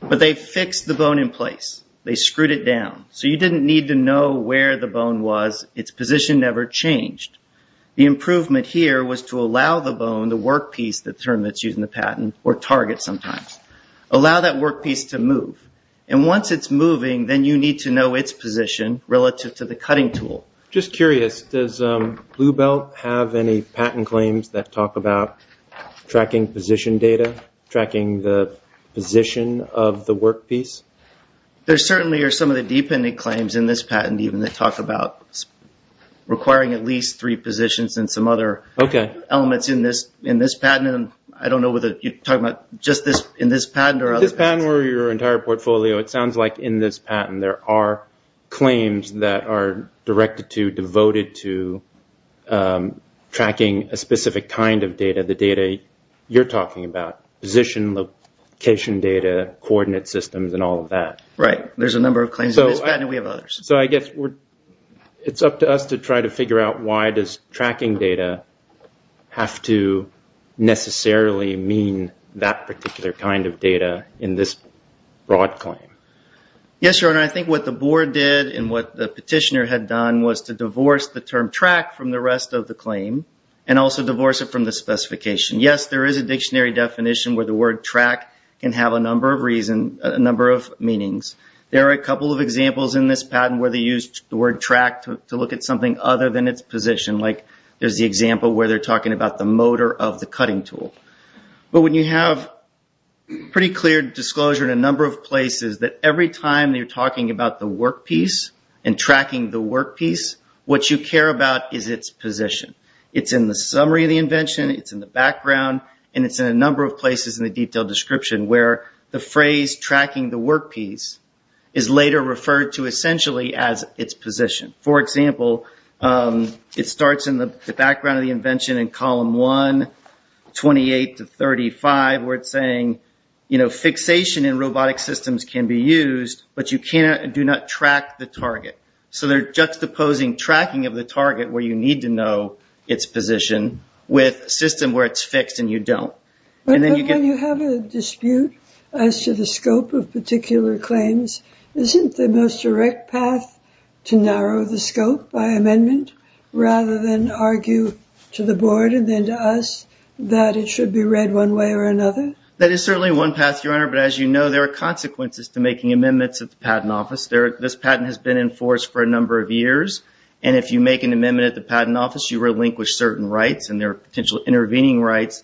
But they fixed the bone in place. They screwed it down. So you didn't need to know where the bone was. Its position never changed. The improvement here was to allow the bone, the work piece, the term that's used in the patent, or target sometimes, allow that work piece to move. And once it's moving, then you need to know its position relative to the cutting tool. Just curious, does Blue Belt have any patent claims that talk about tracking position data, tracking the position of the work piece? There certainly are some of the dependent claims in this patent even that talk about requiring at least three positions and some other elements in this patent. I don't know whether you're talking about just this in this patent or other patents. If this patent were your entire portfolio, it sounds like in this patent there are claims that are directed to, devoted to, tracking a specific kind of data, the data you're looking at, position, location data, coordinate systems, and all of that. Right. There's a number of claims in this patent. We have others. So I guess it's up to us to try to figure out why does tracking data have to necessarily mean that particular kind of data in this broad claim. Yes, Your Honor. I think what the board did and what the petitioner had done was to divorce the term track from the rest of the claim and also divorce it from the specification. Yes, there is a dictionary definition where the word track can have a number of reasons, a number of meanings. There are a couple of examples in this patent where they used the word track to look at something other than its position. Like there's the example where they're talking about the motor of the cutting tool. But when you have pretty clear disclosure in a number of places that every time you're talking about the work piece and tracking the work piece, what you care about is its position. It's in the summary of the invention, it's in the background, and it's in a number of places in the detailed description where the phrase tracking the work piece is later referred to essentially as its position. For example, it starts in the background of the invention in column 1, 28 to 35, where it's saying, you know, fixation in robotic systems can be used, but you do not track the target. So they're juxtaposing tracking of the target where you need to know its position with a system where it's fixed and you don't. But when you have a dispute as to the scope of particular claims, isn't the most direct path to narrow the scope by amendment rather than argue to the board and then to us that it should be read one way or another? That is certainly one path, Your Honor, but as you know, there are consequences to making a claim that has been enforced for a number of years, and if you make an amendment at the Patent Office, you relinquish certain rights and there are potential intervening rights,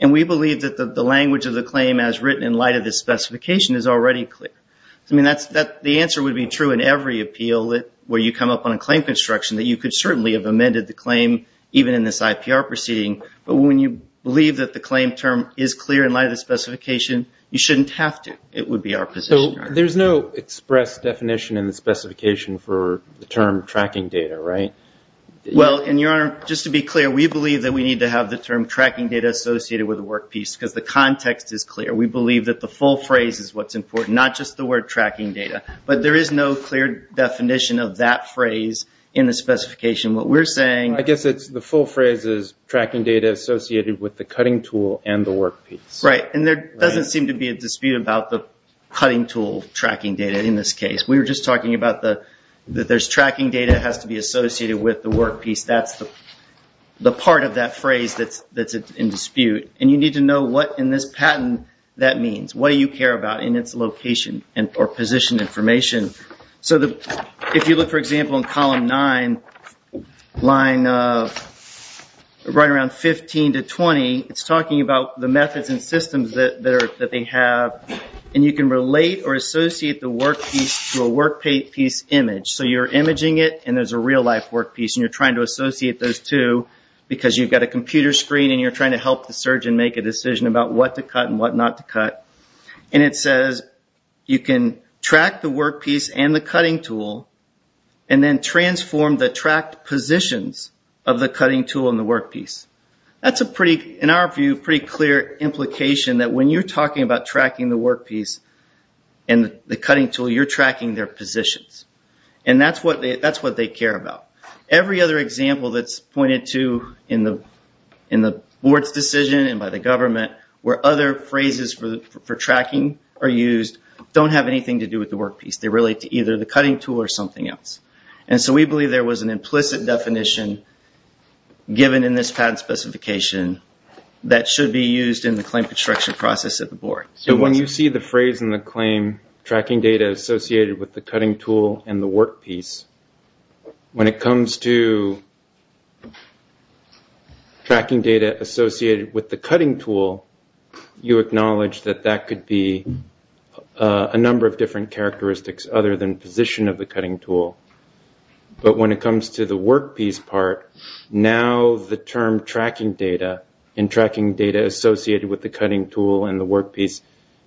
and we believe that the language of the claim as written in light of this specification is already clear. The answer would be true in every appeal where you come up on a claim construction that you could certainly have amended the claim even in this IPR proceeding, but when you believe that the claim term is clear in light of the specification, you shouldn't have to. It would be our position, Your Honor. There's no express definition in the specification for the term tracking data, right? Well, and Your Honor, just to be clear, we believe that we need to have the term tracking data associated with the workpiece because the context is clear. We believe that the full phrase is what's important, not just the word tracking data, but there is no clear definition of that phrase in the specification. What we're saying... I guess it's the full phrase is tracking data associated with the cutting tool and the workpiece. Right, and there doesn't seem to be a dispute about the cutting tool tracking data in this case. We were just talking about that there's tracking data that has to be associated with the workpiece. That's the part of that phrase that's in dispute, and you need to know what in this patent that means. What do you care about in its location or position information? If you look, for example, in column nine, line right around 15 to 20, it's talking about the methods and systems that they have, and you can relate or associate the workpiece to a workpiece image. You're imaging it, and there's a real-life workpiece, and you're trying to associate those two because you've got a computer screen and you're trying to help the surgeon make a decision about what to cut and what not to cut. It says you can track the workpiece and the cutting tool, and then transform the tracked positions of the cutting tool and the workpiece. That's a pretty, in our view, pretty clear implication that when you're talking about tracking the workpiece and the cutting tool, you're tracking their positions, and that's what they care about. Every other example that's pointed to in the board's decision and by the government where other phrases for tracking are used don't have anything to do with the workpiece. They relate to either the cutting tool or something else, and so we believe there was an implicit definition given in this patent specification that should be used in the claim construction process at the board. When you see the phrase in the claim, tracking data associated with the cutting tool and the workpiece, when it comes to tracking data associated with the cutting tool, you acknowledge that that could be a number of different characteristics other than position of the cutting tool. But when it comes to the workpiece part, now the term tracking data and tracking data associated with the cutting tool and the workpiece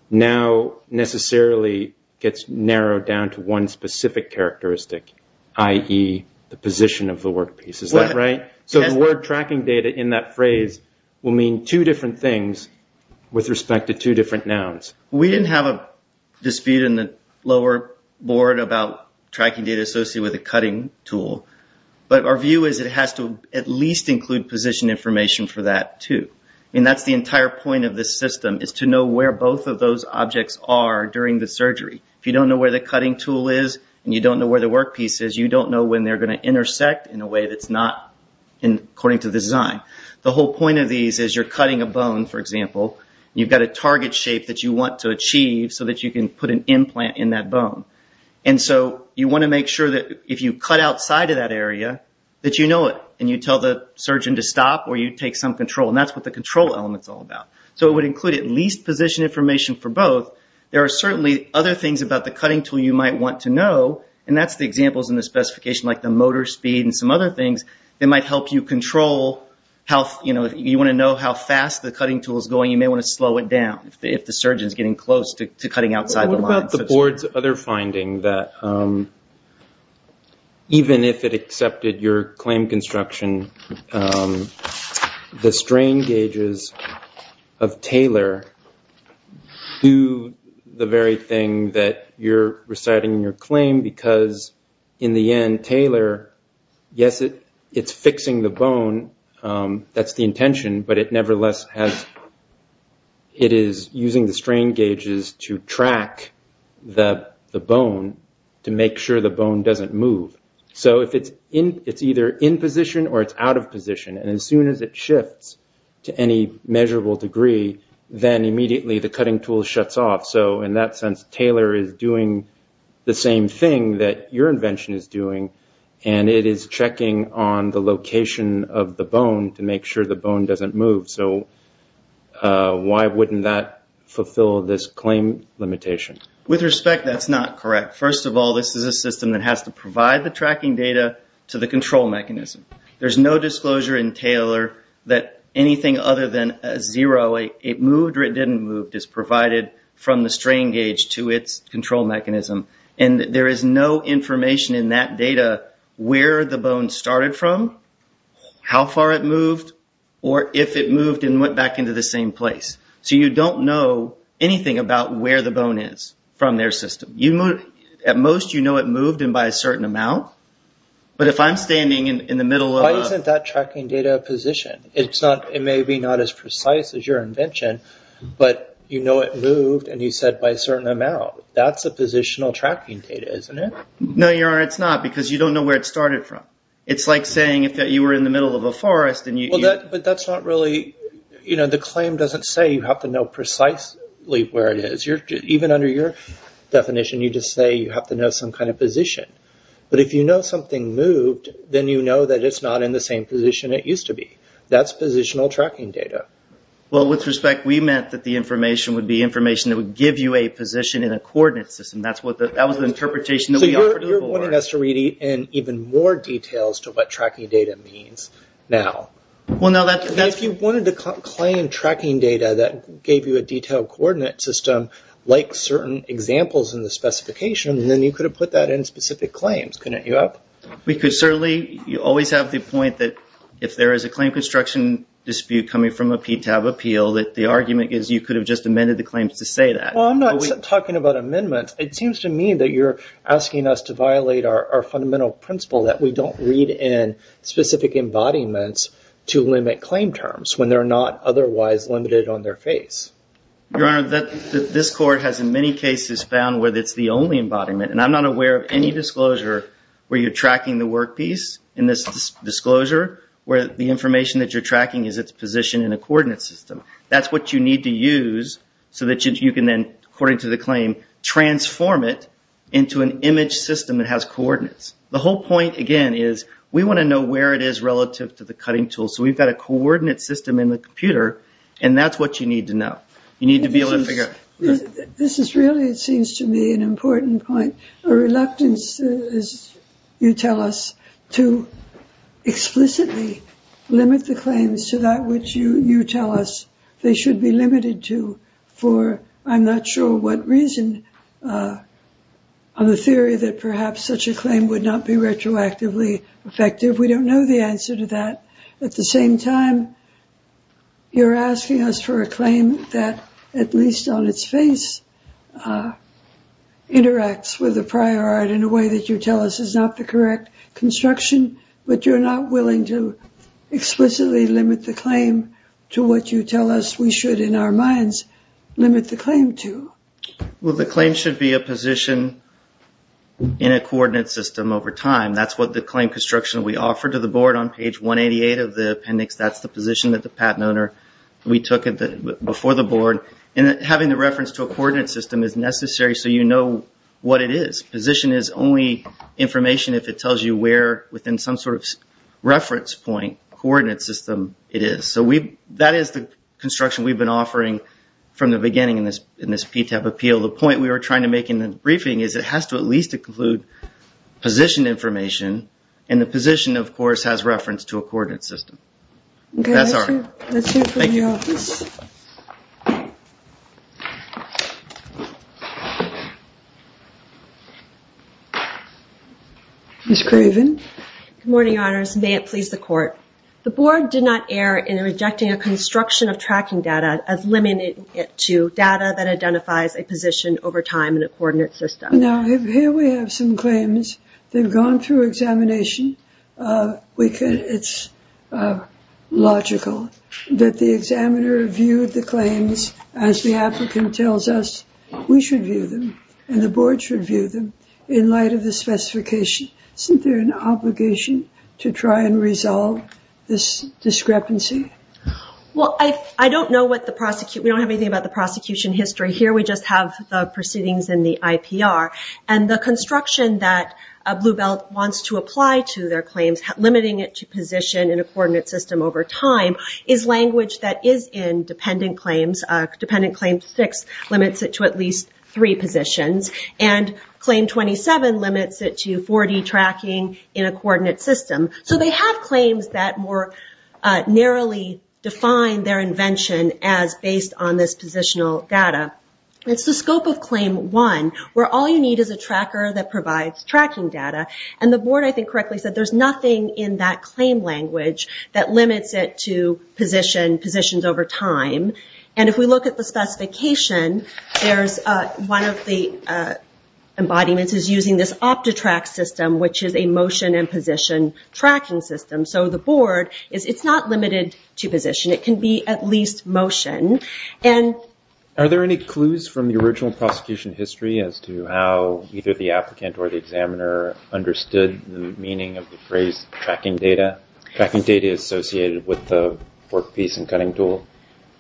now necessarily gets narrowed down to one specific characteristic, i.e., the position of the workpiece. Is that right? Yes. So the word tracking data in that phrase will mean two different things with respect to two different nouns. We didn't have a dispute in the lower board about tracking data associated with the cutting tool, but our view is it has to at least include position information for that too. That's the entire point of this system is to know where both of those objects are during the surgery. If you don't know where the cutting tool is and you don't know where the workpiece is, you don't know when they're going to intersect in a way that's not according to the design. The whole point of these is you're cutting a bone, for example, and you've got a target shape that you want to achieve so that you can put an implant in that bone. You want to make sure that if you cut outside of that area that you know it and you tell the surgeon to stop or you take some control. That's what the control element is all about. So it would include at least position information for both. There are certainly other things about the cutting tool you might want to know, and that's the examples in the specification like the motor speed and some other things that might help you control how fast the cutting tool is going. You may want to slow it down if the surgeon is getting close to cutting outside the line. What about the board's other finding that even if it accepted your claim construction, the strain gauges of Taylor do the very thing that you're reciting your claim because in the end, Taylor, yes, it's fixing the bone. That's the intention, but it nevertheless has, it is using the strain gauges to track the bone to make sure the bone doesn't move. So if it's either in position or it's out of position, and as soon as it shifts to any measurable degree, then immediately the cutting tool shuts off. So in that sense, Taylor is doing the same thing that your invention is doing, and it is checking on the location of the bone to make sure the bone doesn't move. So why wouldn't that fulfill this claim limitation? With respect, that's not correct. First of all, this is a system that has to provide the tracking data to the control mechanism. There's no disclosure in Taylor that anything other than a zero, it moved or it didn't move, is provided from the strain gauge to its control mechanism, and there is no information in that data where the bone started from, how far it moved, or if it moved and went back into the same place. So you don't know anything about where the bone is from their system. At most, you know it moved and by a certain amount, but if I'm standing in the middle of- Why isn't that tracking data position? It may be not as precise as your invention, but you know it moved and you said by a certain amount. That's a positional tracking data, isn't it? No, Your Honor, it's not, because you don't know where it started from. It's like saying if you were in the middle of a forest and you- But that's not really... The claim doesn't say you have to know precisely where it is. Even under your definition, you just say you have to know some kind of position. But if you know something moved, then you know that it's not in the same position it used to be. That's positional tracking data. Well, with respect, we meant that the information would be information that would give you a position in a coordinate system. That was the interpretation that we offered before. So you're wanting us to read in even more details to what tracking data means now. Well, no, that's- If you wanted to claim tracking data that gave you a detailed coordinate system, like certain examples in the specification, then you could have put that in specific claims. Couldn't you have? We could certainly. You always have the point that if there is a claim construction dispute coming from a PTAB appeal, that the argument is you could have just amended the claims to say that. Well, I'm not talking about amendments. It seems to me that you're asking us to violate our fundamental principle that we don't read in specific embodiments to limit claim terms when they're not otherwise limited on their face. Your Honor, this court has in many cases found where it's the only embodiment. And I'm not aware of any disclosure where you're tracking the work piece in this disclosure where the in a coordinate system. That's what you need to use so that you can then, according to the claim, transform it into an image system that has coordinates. The whole point, again, is we want to know where it is relative to the cutting tool. So we've got a coordinate system in the computer, and that's what you need to know. You need to be able to figure out- This is really, it seems to me, an important point. A reluctance, as you tell us, to explicitly limit the claims to that which you tell us they should be limited to for, I'm not sure what reason, on the theory that perhaps such a claim would not be retroactively effective. We don't know the answer to that. At the same time, you're asking us for a claim that, at least on its face, interacts with the prior art in a way that you tell us is not the correct construction, but you're not willing to explicitly limit the claim to what you tell us we should, in our minds, limit the claim to. Well, the claim should be a position in a coordinate system over time. That's what the claim construction we offer to the board on page 188 of the appendix. That's the position that the patent owner, we took it before the board. And having the reference to a coordinate system is necessary so you know what it is. Position is only information if it tells you where, within some sort of reference point, coordinate system it is. So that is the construction we've been offering from the beginning in this PTAP appeal. The point we were trying to make in the briefing is it has to at least include position information, and the position, of course, has reference to a coordinate system. Okay, that's it. That's it for the office. Ms. Craven. Good morning, Your Honors. May it please the Court. The board did not err in rejecting a construction of tracking data as limited to data that identifies a position over time in a coordinate system. Now, here we have some claims. They've gone through examination. It's logical that the examiner viewed the claims as the applicant tells us we should view them and the board should view them in light of the specification. Isn't there an obligation to try and resolve this discrepancy? Well, I don't know what the prosecution, we don't have anything about the prosecution history here. We just have the proceedings in the IPR, and the construction that Blue Belt wants to apply to their claims, limiting it to position in a coordinate system over time, is language that is in dependent claims. Dependent claim six limits it to at least three positions, and claim 27 limits it to 40 tracking in a coordinate system. So they have claims that more narrowly define their invention as based on this positional data. It's the scope of claim one, where all you need is a tracker that provides tracking data. The board, I think, correctly said there's nothing in that claim language that limits it to positions over time. If we look at the specification, one of the embodiments is using this OptiTrack system, which is a motion and position tracking system. So the board, it's not limited to position. It can be at least motion. Are there any clues from the original prosecution history as to how either the applicant or the examiner understood the meaning of the phrase tracking data? Tracking data is associated with the workpiece and cutting tool.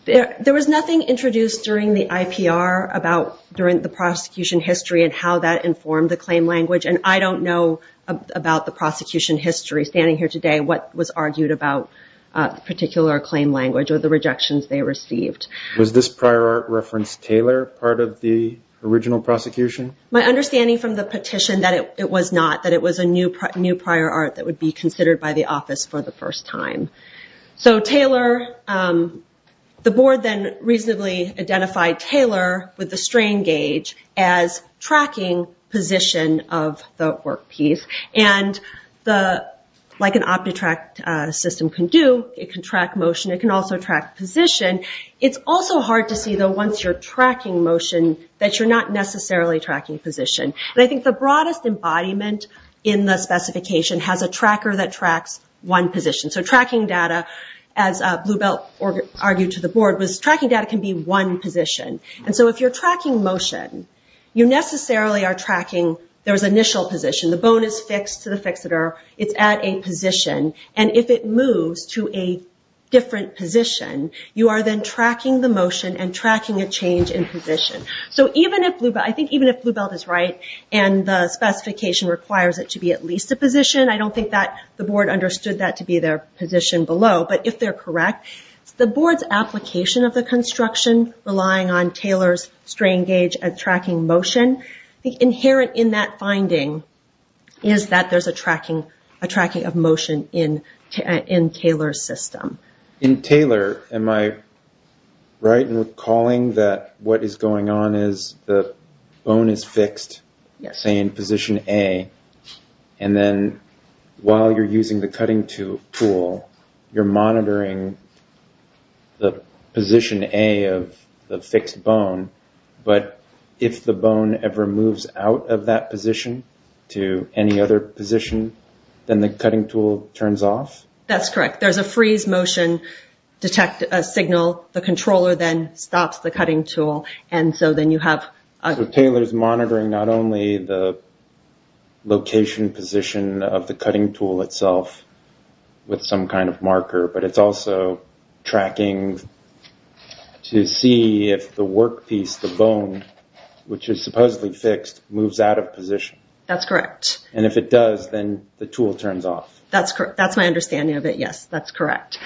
There was nothing introduced during the IPR about during the prosecution history and how that informed the claim language, and I don't know about the prosecution history standing here today what was argued about particular claim language or the rejections they received. Was this prior art reference Taylor part of the original prosecution? My understanding from the petition that it was not, that it was a new prior art that would be considered by the office for the first time. So Taylor, the board then reasonably identified Taylor with the strain gauge as tracking position of the workpiece. Like an OptiTrack system can do, it can track motion. It can also track position. It's also hard to see, though, once you're tracking motion that you're not necessarily tracking position. I think the broadest embodiment in the specification has a tracker that tracks one position. So tracking data, as Bluebelt argued to the board, was tracking data can be one position. And so if you're tracking motion, you necessarily are tracking there's initial position. The bone is fixed to the fixator. It's at a position. And if it moves to a different position, you are then tracking the motion and tracking a change in position. So even if Bluebelt, I think even if Bluebelt is right and the specification requires it to be at least a position, I don't think that the board understood that to be their position below. But if they're correct, the board's application of the construction relying on Taylor's strain gauge and tracking motion, the inherent in that finding is that there's a tracking of motion in Taylor's system. In Taylor, am I right in recalling that what is going on is the bone is fixed, say in position A. And then while you're using the cutting tool, you're monitoring the position A of the fixed bone. But if the bone ever moves out of that position to any other position, then the cutting tool turns off? That's correct. There's a freeze motion signal. The controller then stops the cutting tool. And so then you have... So Taylor's monitoring not only the location position of the cutting tool itself with some kind of marker, but it's also tracking to see if the work piece, the bone, which is supposedly fixed, moves out of position. That's correct. And if it does, then the tool turns off. That's correct. That's my understanding of it. Yes, that's correct.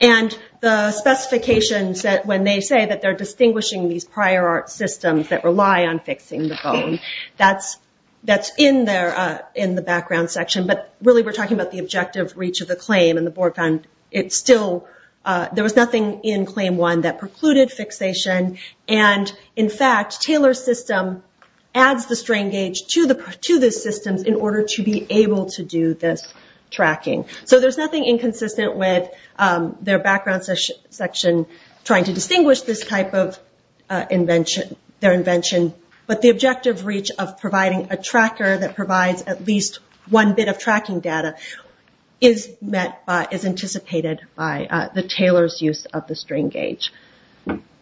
And the specifications that when they say that they're distinguishing these prior art systems that rely on fixing the bone, that's in the background section. But really we're talking about the objective reach of the claim and the board found it still... There was nothing in claim one that precluded fixation. And in fact, Taylor's system adds the strain gauge to the systems in order to be able to do this tracking. So there's nothing inconsistent with their background section trying to distinguish this type of invention, their invention. But the objective reach of providing a tracker that provides at least one bit of tracking data is anticipated by the Taylor's use of the strain gauge.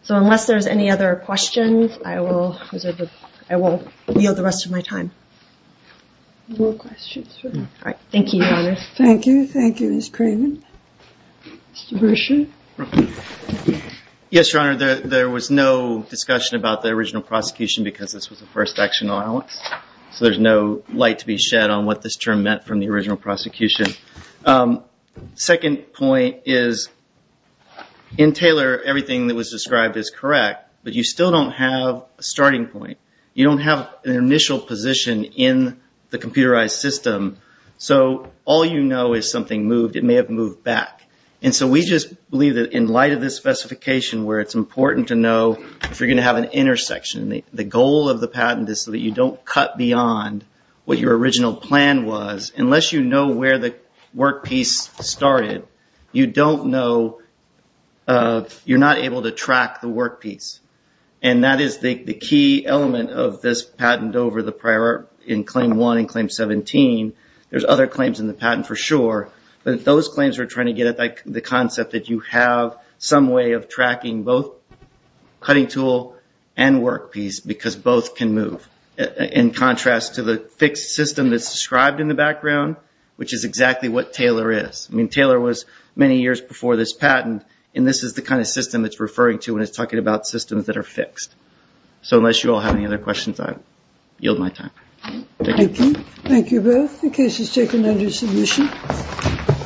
So unless there's any other questions, I will yield the rest of my time. All right. Thank you, Your Honor. Thank you. Thank you, Ms. Craven. Mr. Bershin. Yes, Your Honor. There was no discussion about the original prosecution because this was the first action on Alex. So there's no light to be shed on what this term meant from the original prosecution. Second point is, in Taylor, everything that was described is correct, but you still don't have a starting point. You don't have an initial position in the computerized system. So all you know is something moved. It may have moved back. And so we just believe that in light of this specification where it's important to know if you're going to have an intersection, the goal of the patent is so that you don't cut beyond what your original plan was. Unless you know where the workpiece started, you are not able to track the workpiece. And that is the key element of this patent over the prior in Claim 1 and Claim 17. There's other claims in the patent for sure, but those claims are trying to get at the concept that you have some way of tracking both cutting tool and workpiece because both can move, in contrast to the fixed system that's described in the background, which is exactly what Taylor is. Taylor was many years before this patent, and this is the kind of system it's referring to when it's talking about systems that are fixed. So unless you all have any other questions, I yield my time. Thank you. Thank you both. The case is taken under submission.